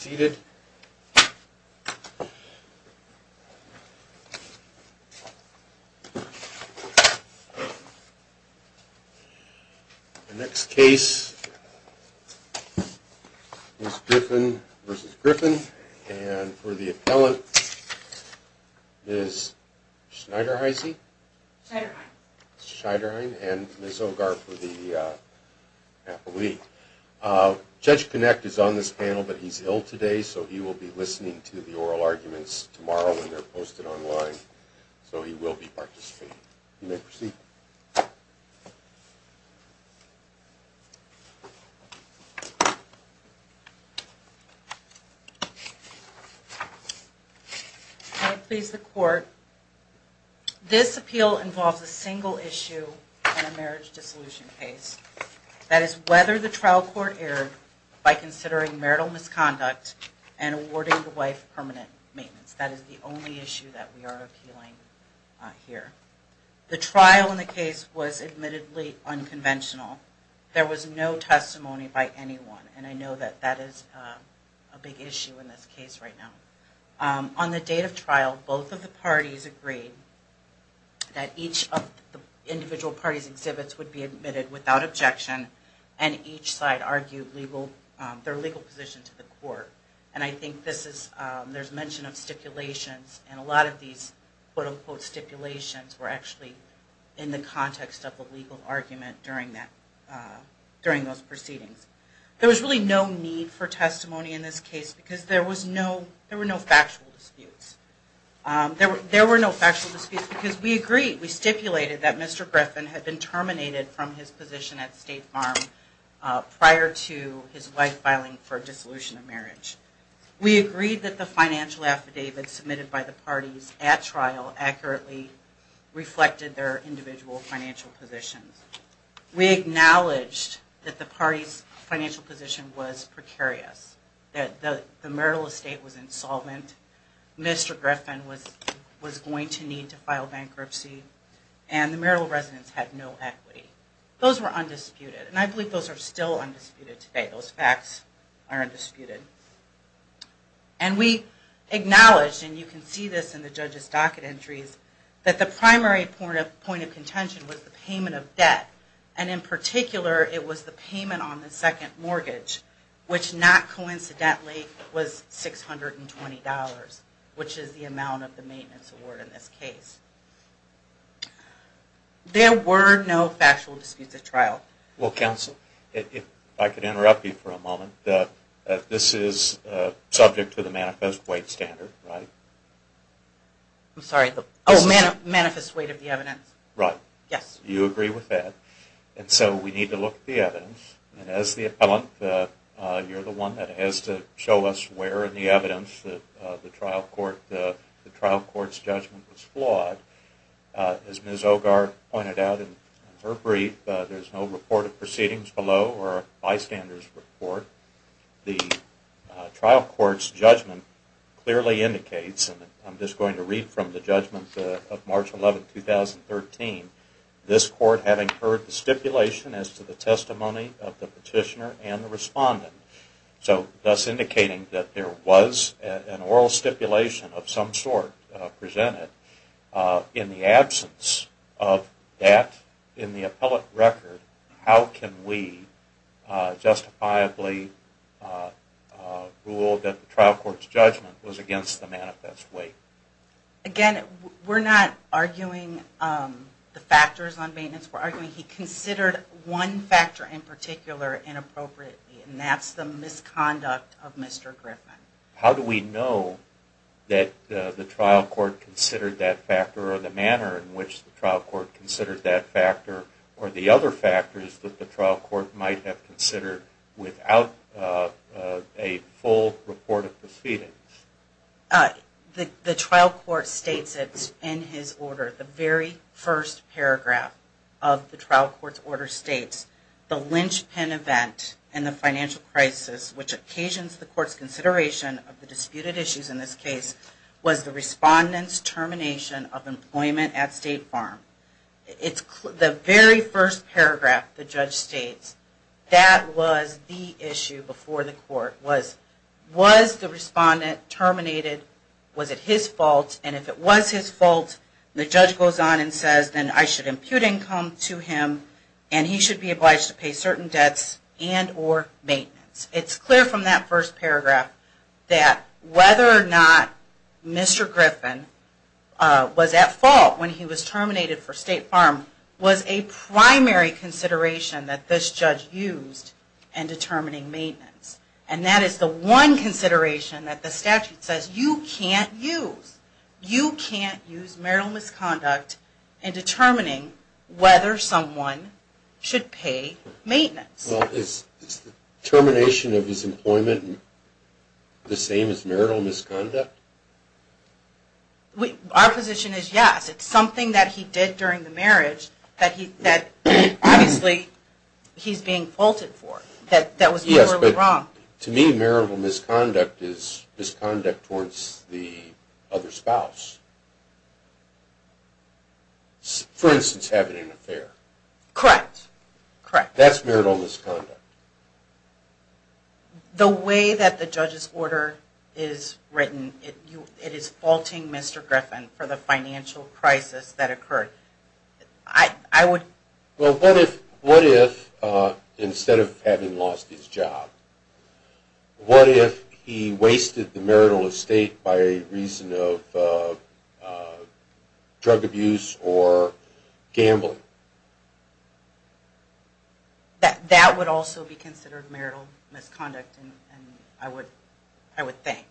The next case is Griffin vs. Griffin and for the appellant is Schneiderhine and Ms. Ogar for the appellee. Judge Kinect is on this panel but he's ill today so he will be listening to the oral arguments tomorrow when they're posted online. So he will be participating. You may proceed. May it please the court, this appeal involves a single issue on a marriage dissolution case. That is whether the trial court erred by considering marital misconduct and awarding the wife permanent maintenance. That is the only issue that we are appealing here. The trial in the case was admittedly unconventional. There was no testimony by anyone and I know that that is a big issue in this case right now. On the date of trial both of the parties agreed that each of the individual parties exhibits would be admitted without objection and each side argued their legal position to the court. And I think there's mention of stipulations and a lot of these quote unquote stipulations were actually in the context of a legal argument during those proceedings. There was really no need for testimony in this case because there were no factual disputes. There were no factual disputes because we agreed, we stipulated that Mr. Griffin had been terminated from his position at State Farm prior to his wife filing for dissolution of marriage. We agreed that the financial affidavit submitted by the parties at trial accurately reflected their individual financial positions. We acknowledged that the parties financial position was precarious. That the marital estate was insolvent, Mr. Griffin was going to need to file bankruptcy, and the marital residence had no equity. Those were undisputed and I believe those are still undisputed today. Those facts are undisputed. And we acknowledged, and you can see this in the judge's docket entries, that the primary point of contention was the payment of debt. And in particular it was the payment on the second mortgage, which not coincidentally was $620, which is the amount of the maintenance award in this case. There were no factual disputes at trial. Well, counsel, if I could interrupt you for a moment. This is subject to the manifest weight standard, right? I'm sorry. Oh, manifest weight of the evidence. Right. You agree with that. And so we need to look at the evidence. And as the appellant, you're the one that has to show us where in the evidence the trial court's judgment was flawed. As Ms. Ogar pointed out in her brief, there's no report of proceedings below or a bystander's report. The trial court's judgment clearly indicates, and I'm just going to read from the judgment of March 11, 2013, this court having heard the stipulation as to the testimony of the petitioner and the respondent, thus indicating that there was an oral stipulation of some sort presented. In the absence of that in the appellate record, how can we justifiably rule that the trial court's judgment was against the manifest weight? Again, we're not arguing the factors on maintenance. We're arguing he considered one factor in particular inappropriately, and that's the misconduct of Mr. Griffin. How do we know that the trial court considered that factor or the manner in which the trial court considered that factor or the other factors that the trial court might have considered without a full report of proceedings? The trial court states it in his order. The very first paragraph of the trial court's order states, the linchpin event in the financial crisis which occasions the court's consideration of the disputed issues in this case was the respondent's termination of employment at State Farm. The very first paragraph the judge states that was the issue before the court was, was the respondent terminated, was it his fault, and if it was his fault the judge goes on and says, then I should impute income to him and he should be obliged to pay certain debts and or maintenance. It's clear from that first paragraph that whether or not Mr. Griffin was at fault when he was terminated for State Farm was a primary consideration that this judge used in determining maintenance. And that is the one consideration that the statute says you can't use. You can't use marital misconduct in determining whether someone should pay maintenance. Well, is termination of his employment the same as marital misconduct? Our position is yes. It's something that he did during the marriage that he, that obviously he's being faulted for. Yes, but to me marital misconduct is misconduct towards the other spouse. For instance, having an affair. Correct. That's marital misconduct. The way that the judge's order is written, it is faulting Mr. Griffin for the financial crisis that occurred. Well, what if instead of having lost his job, what if he wasted the marital estate by a reason of drug abuse or gambling? That would also be considered marital misconduct, I would think.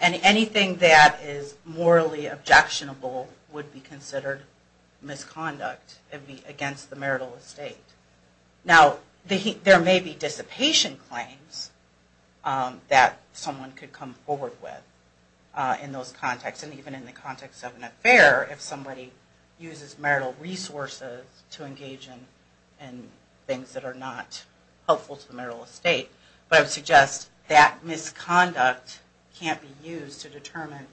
And anything that is morally objectionable would be considered misconduct against the marital estate. Now, there may be dissipation claims that someone could come forward with in those contexts. And even in the context of an affair, if somebody uses marital resources to engage in things that are not helpful to the marital estate. But I would suggest that misconduct can't be used to determine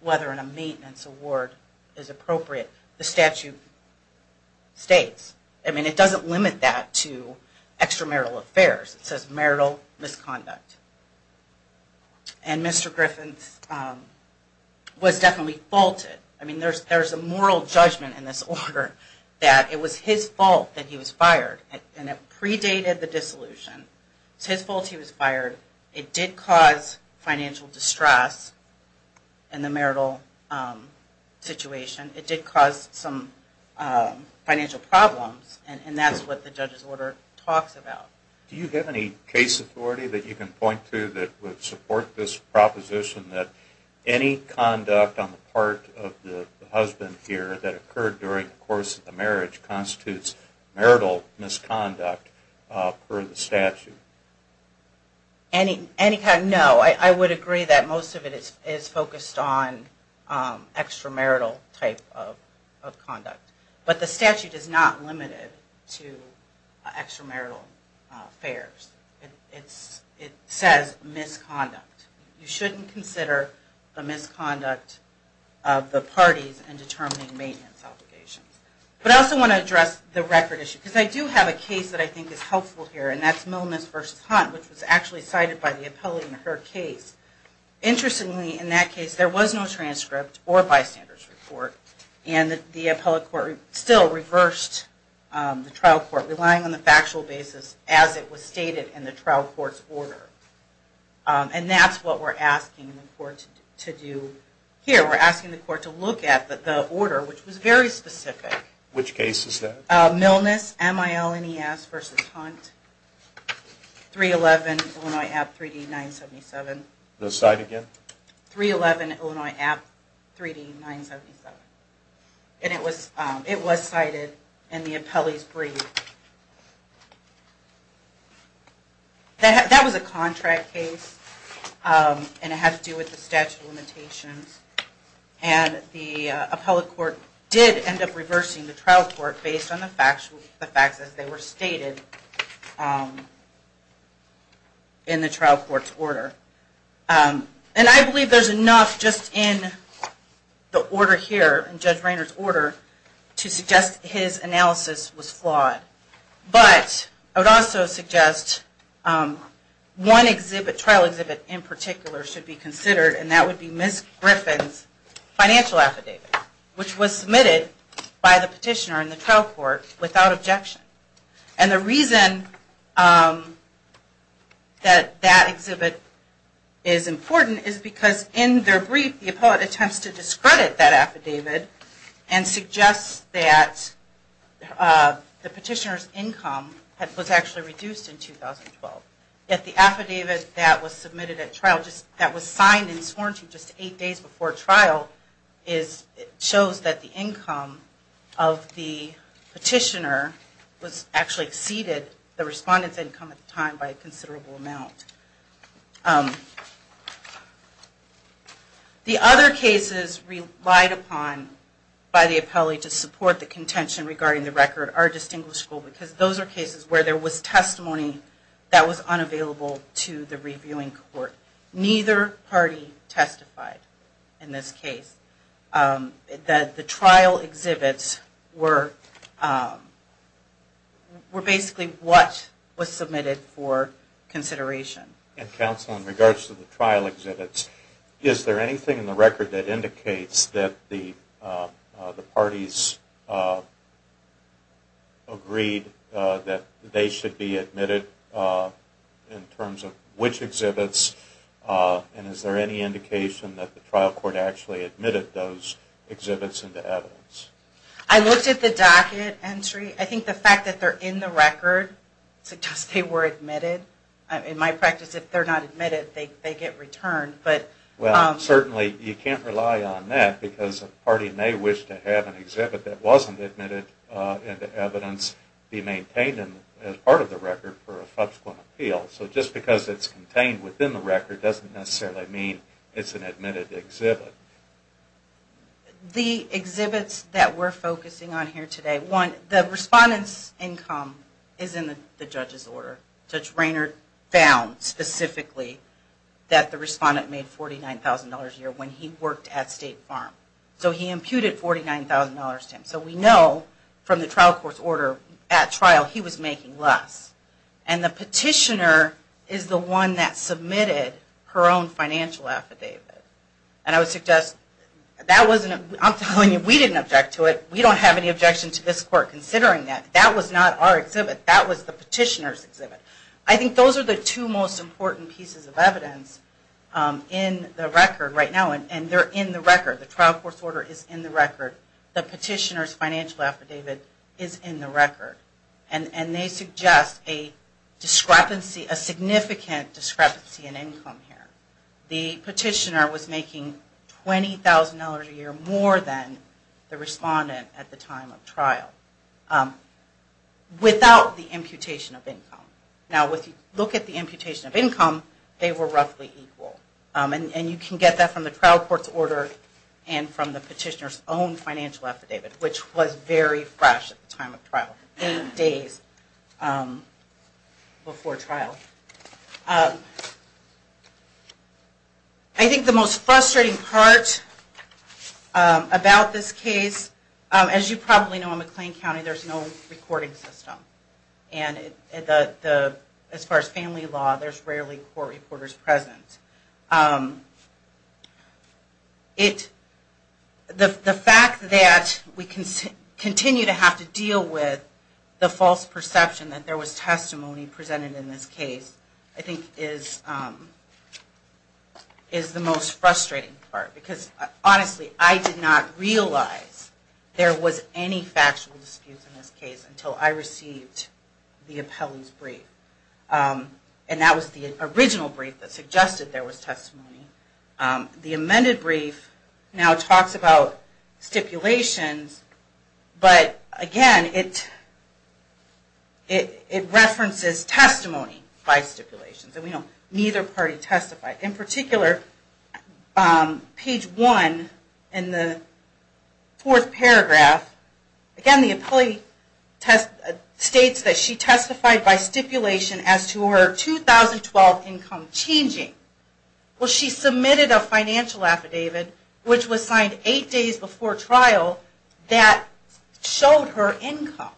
whether a maintenance award is appropriate. The statute states. I mean, it doesn't limit that to extramarital affairs. It says marital misconduct. And Mr. Griffin was definitely faulted. I mean, there's a moral judgment in this order that it was his fault that he was fired. And it predated the dissolution. It's his fault he was fired. It did cause financial distress in the marital situation. It did cause some financial problems. And that's what the judge's order talks about. Do you have any case authority that you can point to that would support this proposition that any conduct on the part of the husband here that occurred during the course of the marriage constitutes marital misconduct per the statute? Any kind, no. I would agree that most of it is focused on extramarital type of conduct. But the statute is not limited to extramarital affairs. It says misconduct. You shouldn't consider the misconduct of the parties in determining maintenance obligations. But I also want to address the record issue. Because I do have a case that I think is helpful here, and that's Milnes v. Hunt, which was actually cited by the appellate in her case. Interestingly, in that case, there was no transcript or bystander's report. And the appellate court still reversed the trial court, relying on the factual basis as it was stated in the trial court's order. And that's what we're asking the court to do here. We're asking the court to look at the order, which was very specific. Which case is that? Milnes, M-I-L-N-E-S v. Hunt, 311 Illinois App 3D 977. The site again? 311 Illinois App 3D 977. And it was cited in the appellate's brief. That was a contract case, and it had to do with the statute of limitations. And the appellate court did end up reversing the trial court based on the facts as they were stated in the trial court's order. And I believe there's enough just in the order here, in Judge Rainer's order, to suggest his analysis was flawed. But I would also suggest one trial exhibit in particular should be considered, and that would be Ms. Griffin's financial affidavit. Which was submitted by the petitioner in the trial court without objection. And the reason that that exhibit is important is because in their brief, the appellate attempts to discredit that affidavit and suggests that the petitioner's income was actually reduced in 2012. Yet the affidavit that was submitted at trial, that was signed and sworn to just eight days before trial, shows that the income of the petitioner actually exceeded the respondent's income at the time by a considerable amount. The other cases relied upon by the appellate to support the contention regarding the record are distinguishable because those are cases where there was testimony that was unavailable to the reviewing court. Neither party testified in this case. That the trial exhibits were basically what was submitted for consideration. And counsel, in regards to the trial exhibits, is there anything in the record that indicates that the parties agreed that they should be admitted in terms of which exhibits? And is there any indication that the trial court actually admitted those exhibits into evidence? I looked at the docket entry. I think the fact that they're in the record suggests they were admitted. In my practice, if they're not admitted, they get returned. Well, certainly you can't rely on that because a party may wish to have an exhibit that wasn't admitted into evidence be maintained as part of the record for a subsequent appeal. So just because it's contained within the record doesn't necessarily mean it's an admitted exhibit. The exhibits that we're focusing on here today, one, the respondent's income is in the judge's order. Judge Raynard found specifically that the respondent made $49,000 a year when he worked at State Farm. So he imputed $49,000 to him. So we know from the trial court's order at trial he was making less. And the petitioner is the one that submitted her own financial affidavit. And I would suggest, I'm telling you, we didn't object to it. We don't have any objection to this court considering that. That was not our exhibit. That was the petitioner's exhibit. I think those are the two most important pieces of evidence in the record right now. And they're in the record. The trial court's order is in the record. And they suggest a discrepancy, a significant discrepancy in income here. The petitioner was making $20,000 a year more than the respondent at the time of trial. Without the imputation of income. Now if you look at the imputation of income, they were roughly equal. And you can get that from the trial court's order and from the petitioner's own financial affidavit, which was very fresh at the time of trial. Eight days before trial. I think the most frustrating part about this case, as you probably know, in McLean County there's no recording system. And as far as family law, there's rarely court reporters present. The fact that we continue to have to deal with the false perception that there was testimony presented in this case, I think is the most frustrating part. Because honestly, I did not realize there was any factual dispute in this case until I received the appellee's brief. And that was the original brief that suggested there was testimony. The amended brief now talks about stipulations, but again, it references testimony by stipulations. And we know neither party testified. In particular, page one in the fourth paragraph, again the appellee states that she testified by stipulation. As to her 2012 income changing. Well, she submitted a financial affidavit, which was signed eight days before trial, that showed her income.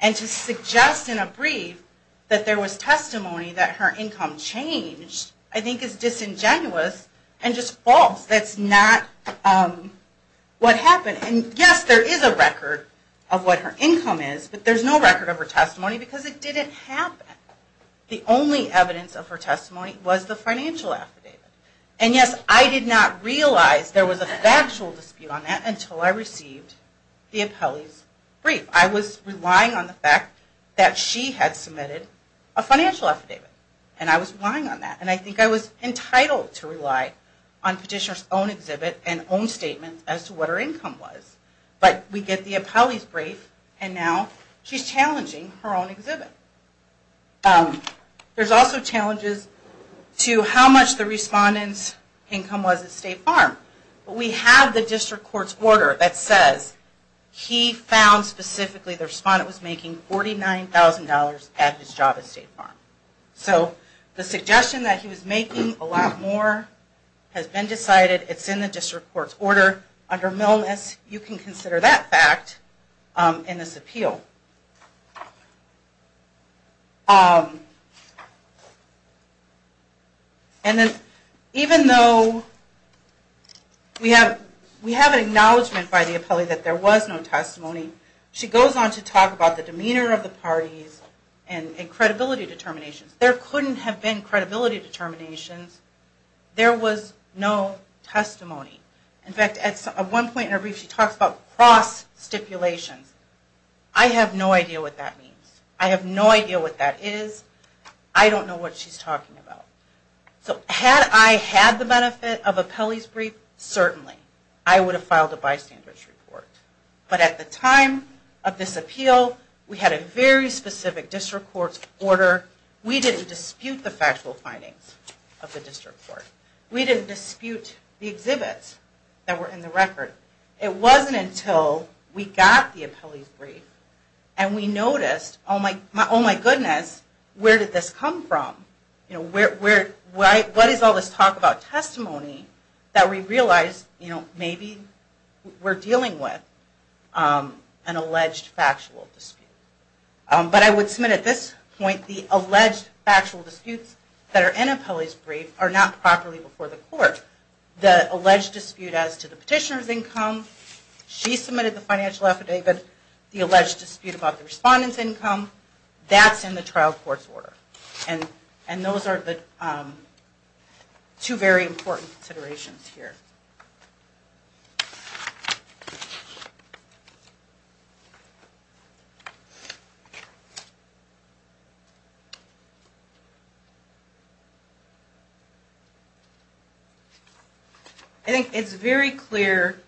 And to suggest in a brief that there was testimony that her income changed, I think is disingenuous and just false. That's not what happened. And yes, there is a record of what her income is, but there's no record of her testimony because it didn't happen. The only evidence of her testimony was the financial affidavit. And yes, I did not realize there was a factual dispute on that until I received the appellee's brief. I was relying on the fact that she had submitted a financial affidavit. And I was relying on that. And I think I was entitled to rely on petitioner's own exhibit and own statement as to what her income was. But we get the appellee's brief and now she's challenging her own exhibit. There's also challenges to how much the respondent's income was at State Farm. We have the district court's order that says he found specifically the respondent was making $49,000 at his job at State Farm. So the suggestion that he was making a lot more has been decided. It's in the district court's order. Under Millness, you can consider that fact in this appeal. And then even though we have an acknowledgment by the appellee that there was no testimony, she goes on to talk about the demeanor of the parties and credibility determinations. There couldn't have been credibility determinations. There was no testimony. In fact, at one point in her brief she talks about cross stipulations. I have no idea what that means. I have no idea what that is. I don't know what she's talking about. So had I had the benefit of appellee's brief, certainly I would have filed a bystander's report. But at the time of this appeal, we had a very specific district court's order. We didn't dispute the factual findings of the district court. We didn't dispute the exhibits that were in the record. It wasn't until we got the appellee's brief and we noticed, oh my goodness, where did this come from? What is all this talk about testimony that we realized maybe we're dealing with an alleged factual dispute? But I would submit at this point the alleged factual disputes that are in appellee's brief are not properly before the court. The alleged dispute as to the petitioner's income, she submitted the financial affidavit, the alleged dispute about the respondent's income, that's in the trial court's order. And those are the two very important considerations here. I think it's very clear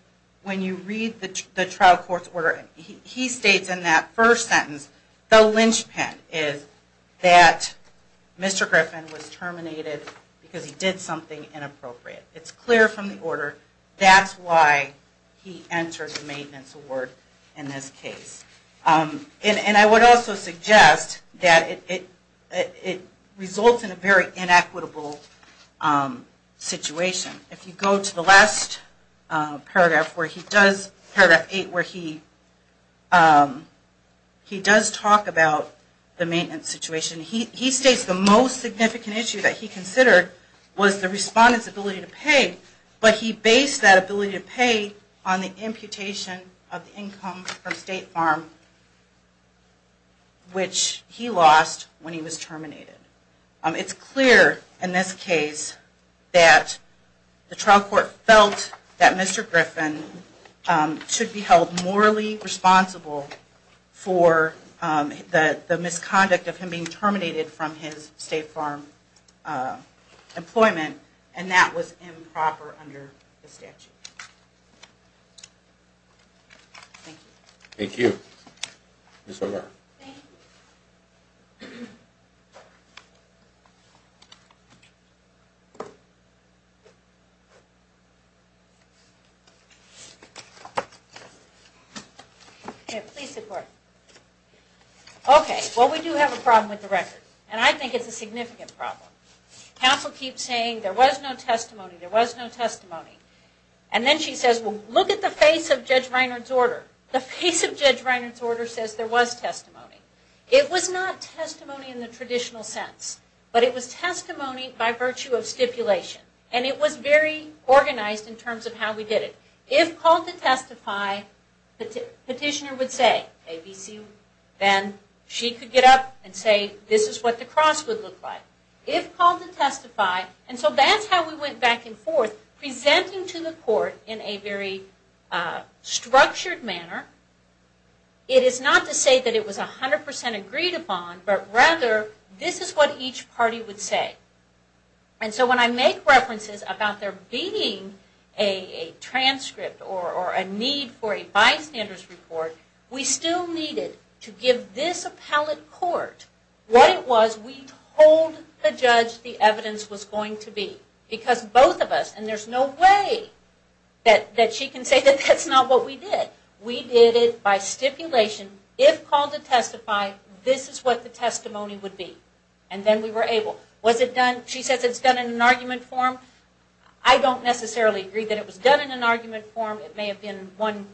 when you read the trial court's order, he states in that first sentence, the linchpin is that Mr. Griffin was terminated because he did something inappropriate. It's clear from the order, that's why he entered the maintenance award in this case. And I would also suggest that it results in a very inequitable situation. If you go to the last paragraph where he does, paragraph 8, where he does say, he does talk about the maintenance situation. He states the most significant issue that he considered was the respondent's ability to pay, but he based that ability to pay on the imputation of the income from State Farm, which he lost when he was terminated. It's clear in this case that the trial court felt that Mr. Griffin should be held morally responsible for the misconduct of him being terminated from his State Farm employment, and that was improper under the statute. Thank you. Okay, well we do have a problem with the record, and I think it's a significant problem. Counsel keeps saying there was no testimony, there was no testimony. And then she says, well look at the face of Judge Reinhardt's order. The face of Judge Reinhardt's order says there was testimony. It was not testimony in the traditional sense, but it was testimony by virtue of stipulation. And it was very organized in terms of how we did it. If called to testify, petitioner would say, ABC, then she could get up and say, this is what the cross would look like. If called to testify, and so that's how we went back and forth, presenting to the court in a very structured manner. It is not to say that it was 100% agreed upon, but rather, this is what each party would say. And so when I make references about there being a transcript or a need for a bystanders report, we still needed to give this appellate court what it was we told the judge the evidence was going to be. Because both of us, and there's no way that she can say that's not what we did. We did it by stipulation. If called to testify, this is what the testimony would be. And then we were able. She says it's done in an argument form. I don't necessarily agree that it was done in an argument form. It may have been one,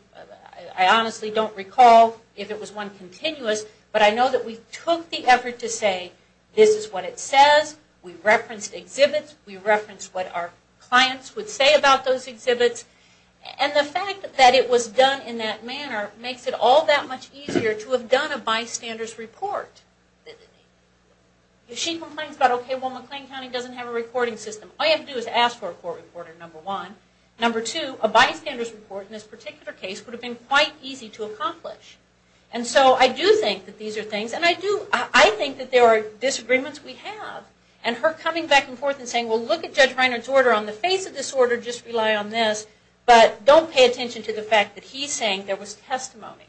I honestly don't recall if it was one continuous, but I know that we took the effort to say, this is what it says. We referenced exhibits, we referenced what our clients would say about those exhibits. And the fact that it was done in that manner makes it all that much easier to have done a bystanders report. If she complains about, okay, well McLean County doesn't have a recording system, all you have to do is ask for a court reporter, number one. Number two, a bystanders report in this particular case would have been quite easy to accomplish. And so I do think that these are things, and I think that there are disagreements we have. And her coming back and forth and saying, well, look at Judge Reiner's order on the face of this order, just rely on this, but don't pay attention to the fact that he's saying there was testimony.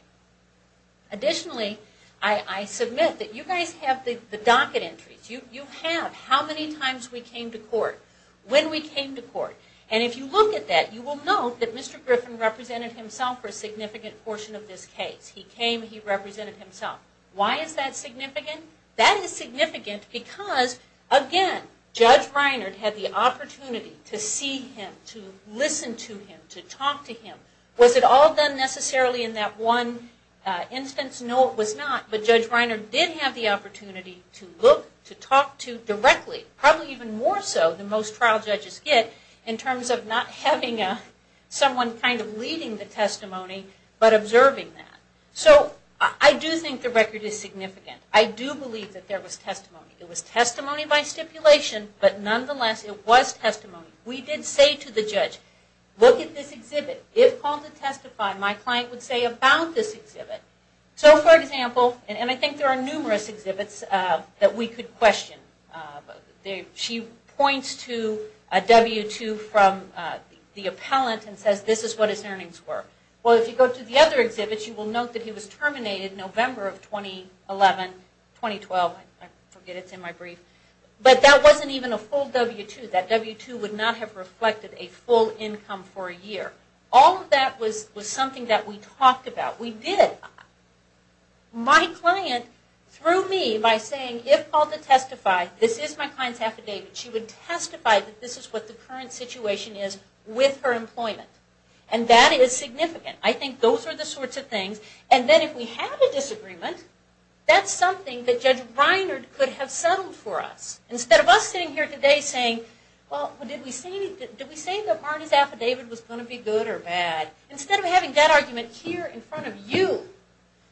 Additionally, I submit that you guys have the docket entries. You have how many times we came to court, when we came to court. And if you look at that, you will note that Mr. Griffin represented himself for a significant portion of this case. He came, he represented himself. Why is that significant? That is significant because, again, Judge Reiner had the opportunity to see him, to listen to him, to talk to him. Was it all done necessarily in that one instance? No, it was not. But Judge Reiner did have the opportunity to look, to talk to directly, probably even more so than most trial judges get, in terms of not having someone kind of leading the testimony, but observing that. So I do think the record is significant. I do believe that there was testimony. It was testimony by stipulation, but nonetheless, it was testimony. We did say to the judge, look at this exhibit. If called to testify, my client would say about this exhibit. So, for example, and I think there are numerous exhibits that we could question. She points to a W-2 from the appellant and says this is what his earnings were. Well, if you go to the other exhibits, you will note that he was terminated November of 2011, 2012. I forget, it's in my brief. But that wasn't even a full W-2. That W-2 would not have reflected a full income for a year. All of that was something that we talked about. My client, through me, by saying if called to testify, this is my client's affidavit, she would testify that this is what the current situation is with her employment. And that is significant. And then if we had a disagreement, that's something that Judge Reiner could have settled for us. Instead of us sitting here today saying, well, did we say that Barney's affidavit was going to be good or bad? Instead of having that argument here in front of you,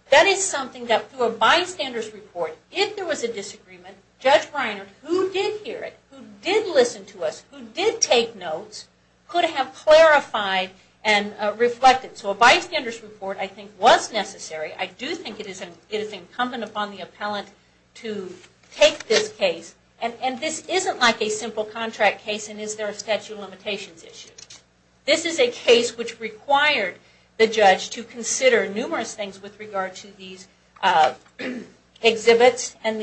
that is something that through a bystander's report, if there was a disagreement, Judge Reiner, who did hear it, who did listen to us, who did take notes, could have clarified and reflected. So a bystander's report, I think, was necessary. I do think it is incumbent upon the appellant to take this case. And this isn't like a simple contract case and is there a statute of limitations issue. This is a case which required the judge to consider numerous things with regard to these exhibits and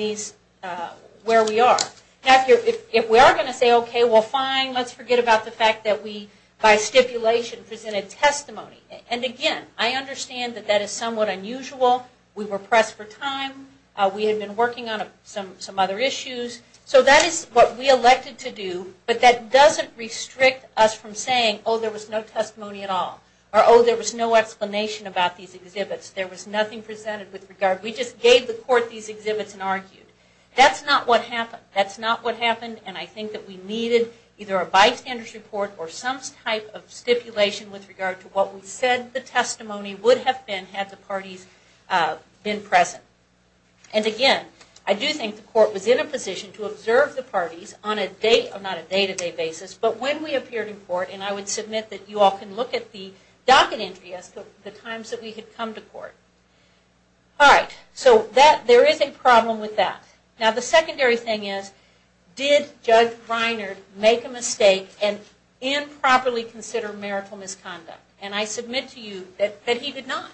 where we are. Now, if we are going to say, okay, well, fine, let's forget about the fact that we, by stipulation, presented testimony. And again, I understand that that is somewhat unusual. We were pressed for time. We had been working on some other issues. So that is what we elected to do. But that doesn't restrict us from saying, oh, there was no testimony at all. Or, oh, there was no explanation about these exhibits. There was nothing presented with regard. We just gave the court these exhibits and argued. That's not what happened. And I think that we needed either a bystander's report or some type of stipulation with regard to what we said the testimony would have been had the parties been present. And again, I do think the court was in a position to observe the parties on a day-to-day basis. But when we appeared in court, and I would submit that you all can look at the docket entry as to the times that we had come to court. Now, the secondary thing is, did Judge Reiner make a mistake and improperly consider marital misconduct? And I submit to you that he did not.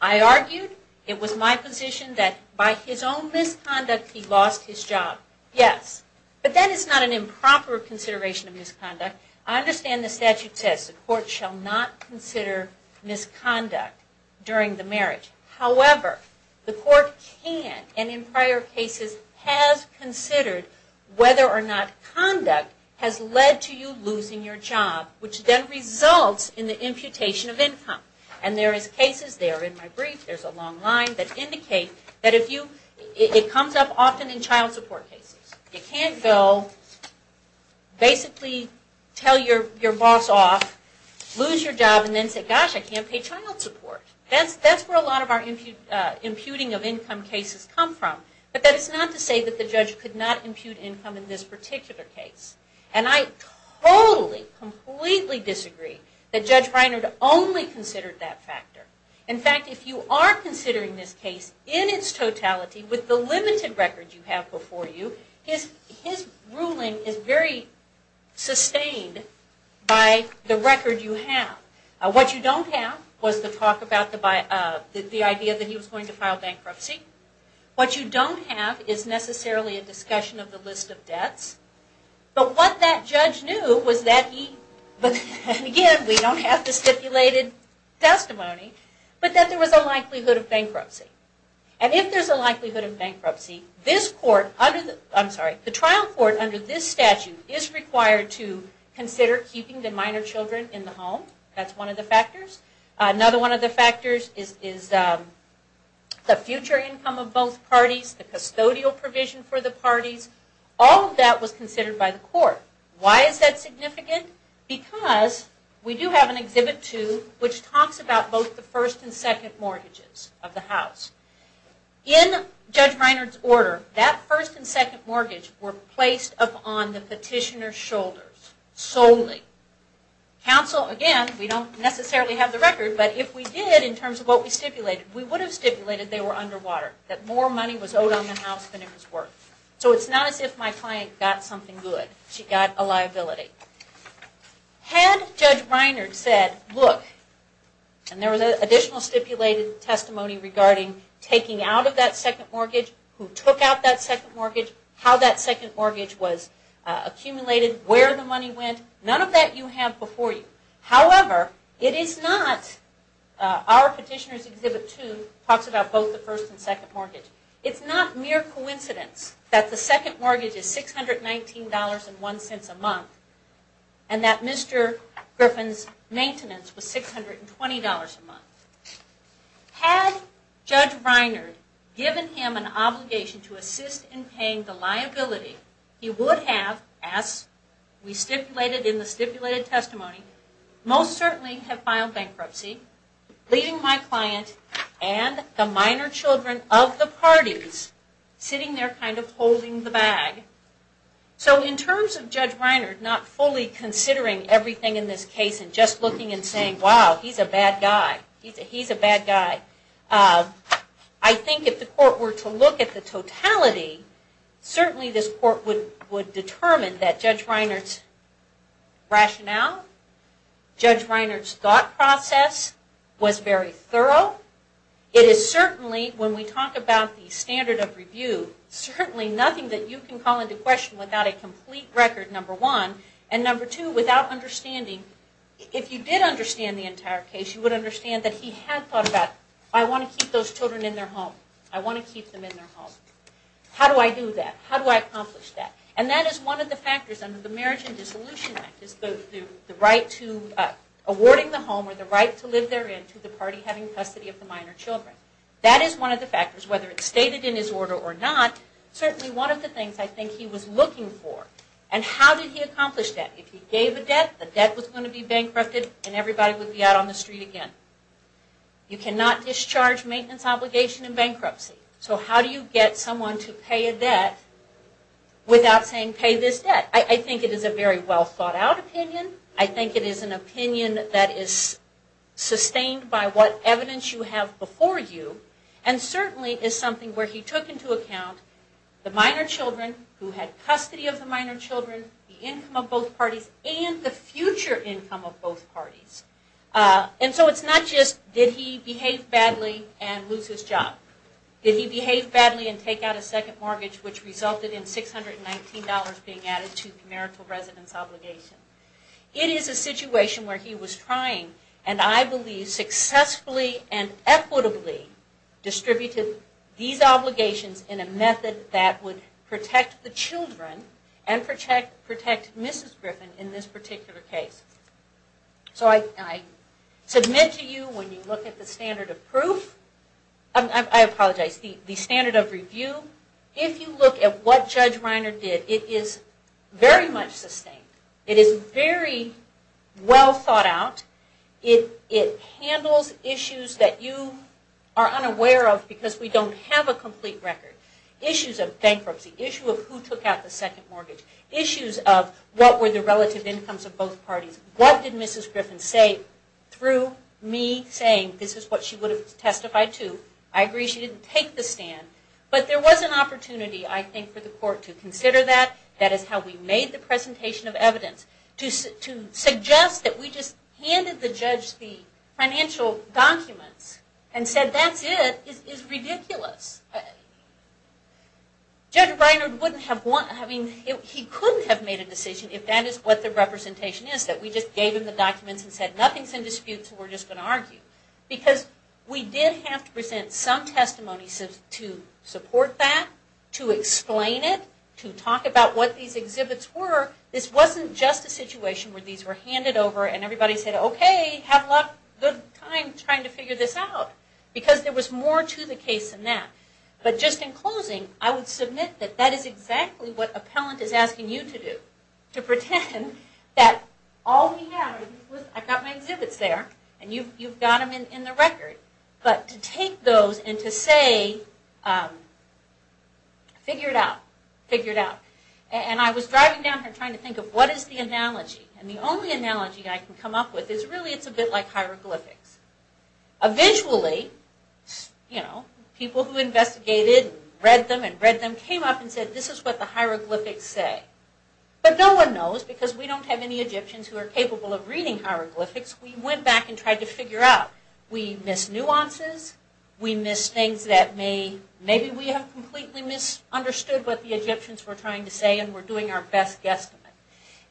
I argued. It was my position that by his own misconduct he lost his job. Yes. But that is not an improper consideration of misconduct. I understand the statute says the court shall not consider misconduct during the marriage. However, the court can, and in prior cases has considered whether or not conduct has led to you losing your job, which then results in the imputation of income. And there is cases there in my brief, there's a long line, that indicate that if you, it comes up often in child support cases. You can't go, basically tell your boss off, lose your job, and then say, gosh, I can't pay child support. That's where a lot of our imputing of income cases come from. But that is not to say that the judge could not impute income in this particular case. And I totally, completely disagree that Judge Reiner only considered that factor. In fact, if you are considering this case in its totality with the limited record you have before you, his ruling is very sustained by the record you have. What you don't have was the talk about the idea that he was going to file bankruptcy. What you don't have is necessarily a discussion of the list of debts. But what that judge knew was that he, again, we don't have the stipulated testimony, but that there was a likelihood of bankruptcy. And if there's a likelihood of bankruptcy, this court, I'm sorry, the trial court under this statute is required to consider keeping the minor children in the home. That's one of the factors. Another one of the factors is the future income of both parties, the custodial provision for the parties. All of that was considered by the court. Why is that significant? Because we do have an Exhibit 2 which talks about both the first and second mortgages of the house. In Judge Reiner's order, that first and second mortgage were placed upon the petitioner's money. Counsel, again, we don't necessarily have the record, but if we did in terms of what we stipulated, we would have stipulated they were underwater. That more money was owed on the house than it was worth. So it's not as if my client got something good. She got a liability. Had Judge Reiner said, look, and there was additional stipulated testimony regarding taking out of that second mortgage, who took out that second mortgage? Who took out that second mortgage? Who took out that second mortgage? It's not mere coincidence that the second mortgage is $619.01 a month and that Mr. Griffin's maintenance was $620 a month. Had Judge Reiner given him an obligation to assist in paying the liability, he would have, as we stipulated in the stipulated testimony, most certainly have filed bankruptcy, leaving my client and the minor children of the parties sitting there kind of holding the bag. So in terms of Judge Reiner not fully considering everything in this case and just looking and saying, wow, he's a bad guy. He's a bad guy. I think if the court were to look at the totality, certainly this court would determine that Judge Reiner's rationale, Judge Reiner's thought process was very thorough. It is certainly, when we talk about the standard of review, certainly nothing that you can call into question without a complete record, number one. And number two, without understanding, if you did understand the entire case, you would understand that he had thought about, I want to keep those children in their home. I want to keep them in their home. How do I do that? How do I accomplish that? And that is one of the factors under the Marriage and Dissolution Act, the right to, awarding the home or the right to live therein to the party having custody of the minor children. That is one of the factors, whether it's stated in his order or not, certainly one of the things I think he was looking for. And how did he accomplish that? If he gave a debt, the debt was going to be bankrupted and everybody would be out on the street again. You cannot discharge maintenance obligation in bankruptcy. So how do you get someone to pay a debt without saying pay this debt? I think it is a very well thought out opinion. I think it is an opinion that is sustained by what evidence you have before you. And certainly is something where he took into account the minor children's future income of both parties. And so it's not just did he behave badly and lose his job. Did he behave badly and take out a second mortgage which resulted in $619 being added to the marital residence obligation. It is a situation where he was trying, and I believe successfully and equitably distributed these obligations in a method that would make sense in your case. So I submit to you when you look at the standard of proof, I apologize, the standard of review, if you look at what Judge Reiner did, it is very much sustained. It is very well thought out. It handles issues that you are unaware of because we don't have a complete record. Issues of bankruptcy, issue of who took out the second mortgage, issues of what were the relative incomes of both parties, what did Mrs. Griffin say through me saying this is what she would have testified to. I agree she didn't take the stand, but there was an opportunity I think for the court to consider that. That is how we made the presentation of evidence. To suggest that we just handed the judge the financial documents and said that's it is ridiculous. Judge Reiner couldn't have made a decision if that is what the representation is, that we just gave him the documents and said nothing is in dispute so we are just going to argue. Because we did have to present some testimony to support that, to explain it, to talk about what these exhibits were. This wasn't just a situation where these were handed over and everybody said okay, have a good time trying to figure this out. Because there was more to the case than that. But just in closing, I would submit that that is exactly what appellant is asking you to do. To pretend that all we have I've got my exhibits there and you've got them in the record. But to take those and to say figure it out. And I was driving down here trying to think of what is the analogy. And the only analogy I can come up with is really it's a bit like hieroglyphics. Eventually people who investigated and read them and read them came up and said this is what the hieroglyphics say. But no one knows because we don't have any Egyptians who are capable of reading hieroglyphics. We went back and tried to figure out. We miss nuances, we miss things that maybe we have completely misunderstood what the Egyptians were trying to say and we're doing our best guesstimate.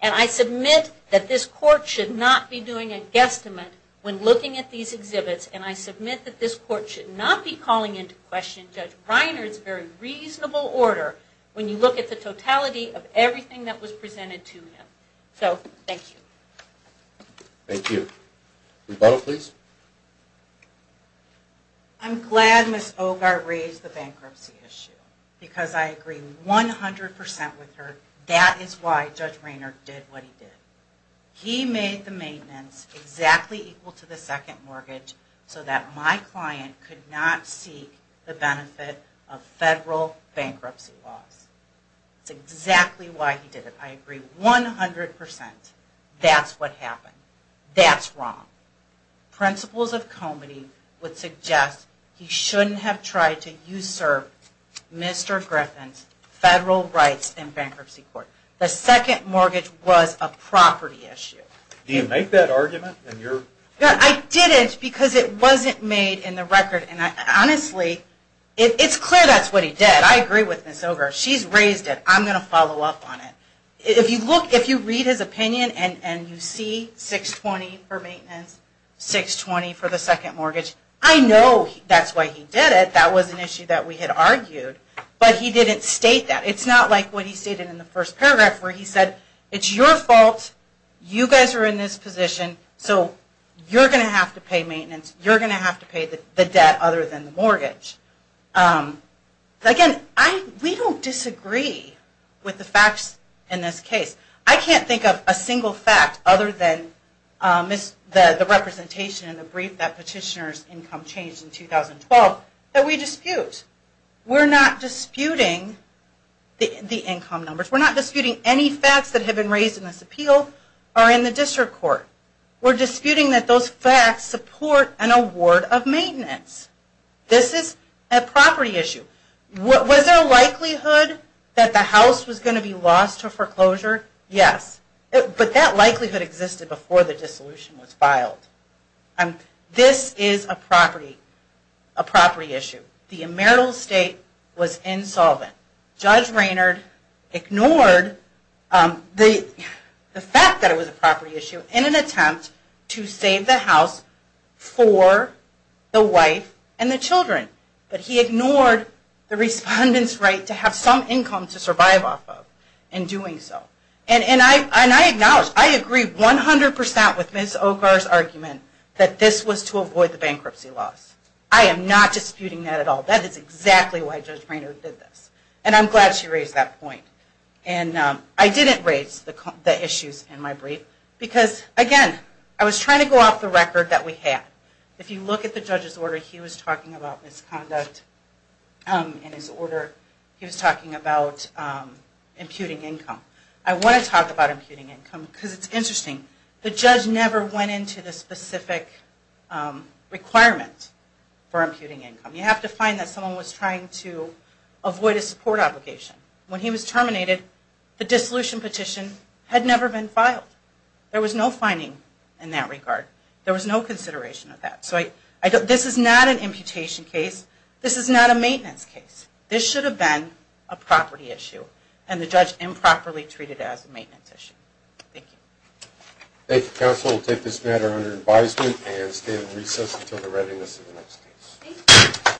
And I submit that this court should not be doing a guesstimate when looking at these exhibits. And I submit that this court should not be calling into question Judge Reiner's very reasonable order when you look at the totality of everything that was presented to him. So thank you. Thank you. Rebuttal please. I'm glad Ms. Ogar raised the bankruptcy issue because I agree 100% with her. That is why Judge Reiner did what he did. He made the maintenance exactly equal to the second mortgage so that my client could not seek the benefit of federal bankruptcy laws. That's exactly why he did it. I agree 100%. That's what happened. That's wrong. Principles of comedy would suggest he shouldn't have tried to usurp Mr. Griffin's federal rights in bankruptcy court. The second mortgage was a property issue. Do you make that argument? I didn't because it wasn't made in the record and honestly it's clear that's what he did. I agree with Ms. Ogar. She's raised it. I'm going to follow up on it. If you read his opinion and you see 620 for maintenance, 620 for the second mortgage, I know that's why he did it. That was an issue that we had argued. But he didn't state that. It's not like what he stated in the first paragraph where he said it's your fault. You guys are in this position so you're going to have to pay maintenance. You're going to have to pay the debt other than the mortgage. Again, we don't disagree with the facts in this case. I can't think of a single fact other than the representation in the brief that petitioner's income changed in 2012 that we dispute. We're not disputing the court. We're disputing that those facts support an award of maintenance. This is a property issue. Was there a likelihood that the house was going to be lost to foreclosure? Yes. But that likelihood existed before the dissolution was filed. This is a property issue. The emerital estate was insolvent. Judge Raynard ignored the fact that it was a property issue in an attempt to save the house for the wife and the children. But he ignored the respondent's right to have some income to survive off of in doing so. And I acknowledge, I agree 100% with Ms. Okar's argument that this was to avoid the bankruptcy loss. I am not I didn't raise the issues in my brief because, again, I was trying to go off the record that we had. If you look at the judge's order, he was talking about misconduct in his order. He was talking about imputing income. I want to talk about imputing income because it's interesting. The judge never went into the specific requirement for imputing income. You have to find that someone was trying to avoid a support obligation. When he was terminated, the dissolution petition had never been filed. There was no finding in that regard. There was no consideration of that. This is not an imputation case. This is not a maintenance case. This should have been a property issue. And the judge improperly treated it as a maintenance issue. Thank you. Thank you, counsel. We'll take this matter under advisement and stay in recess until the readiness of the next case.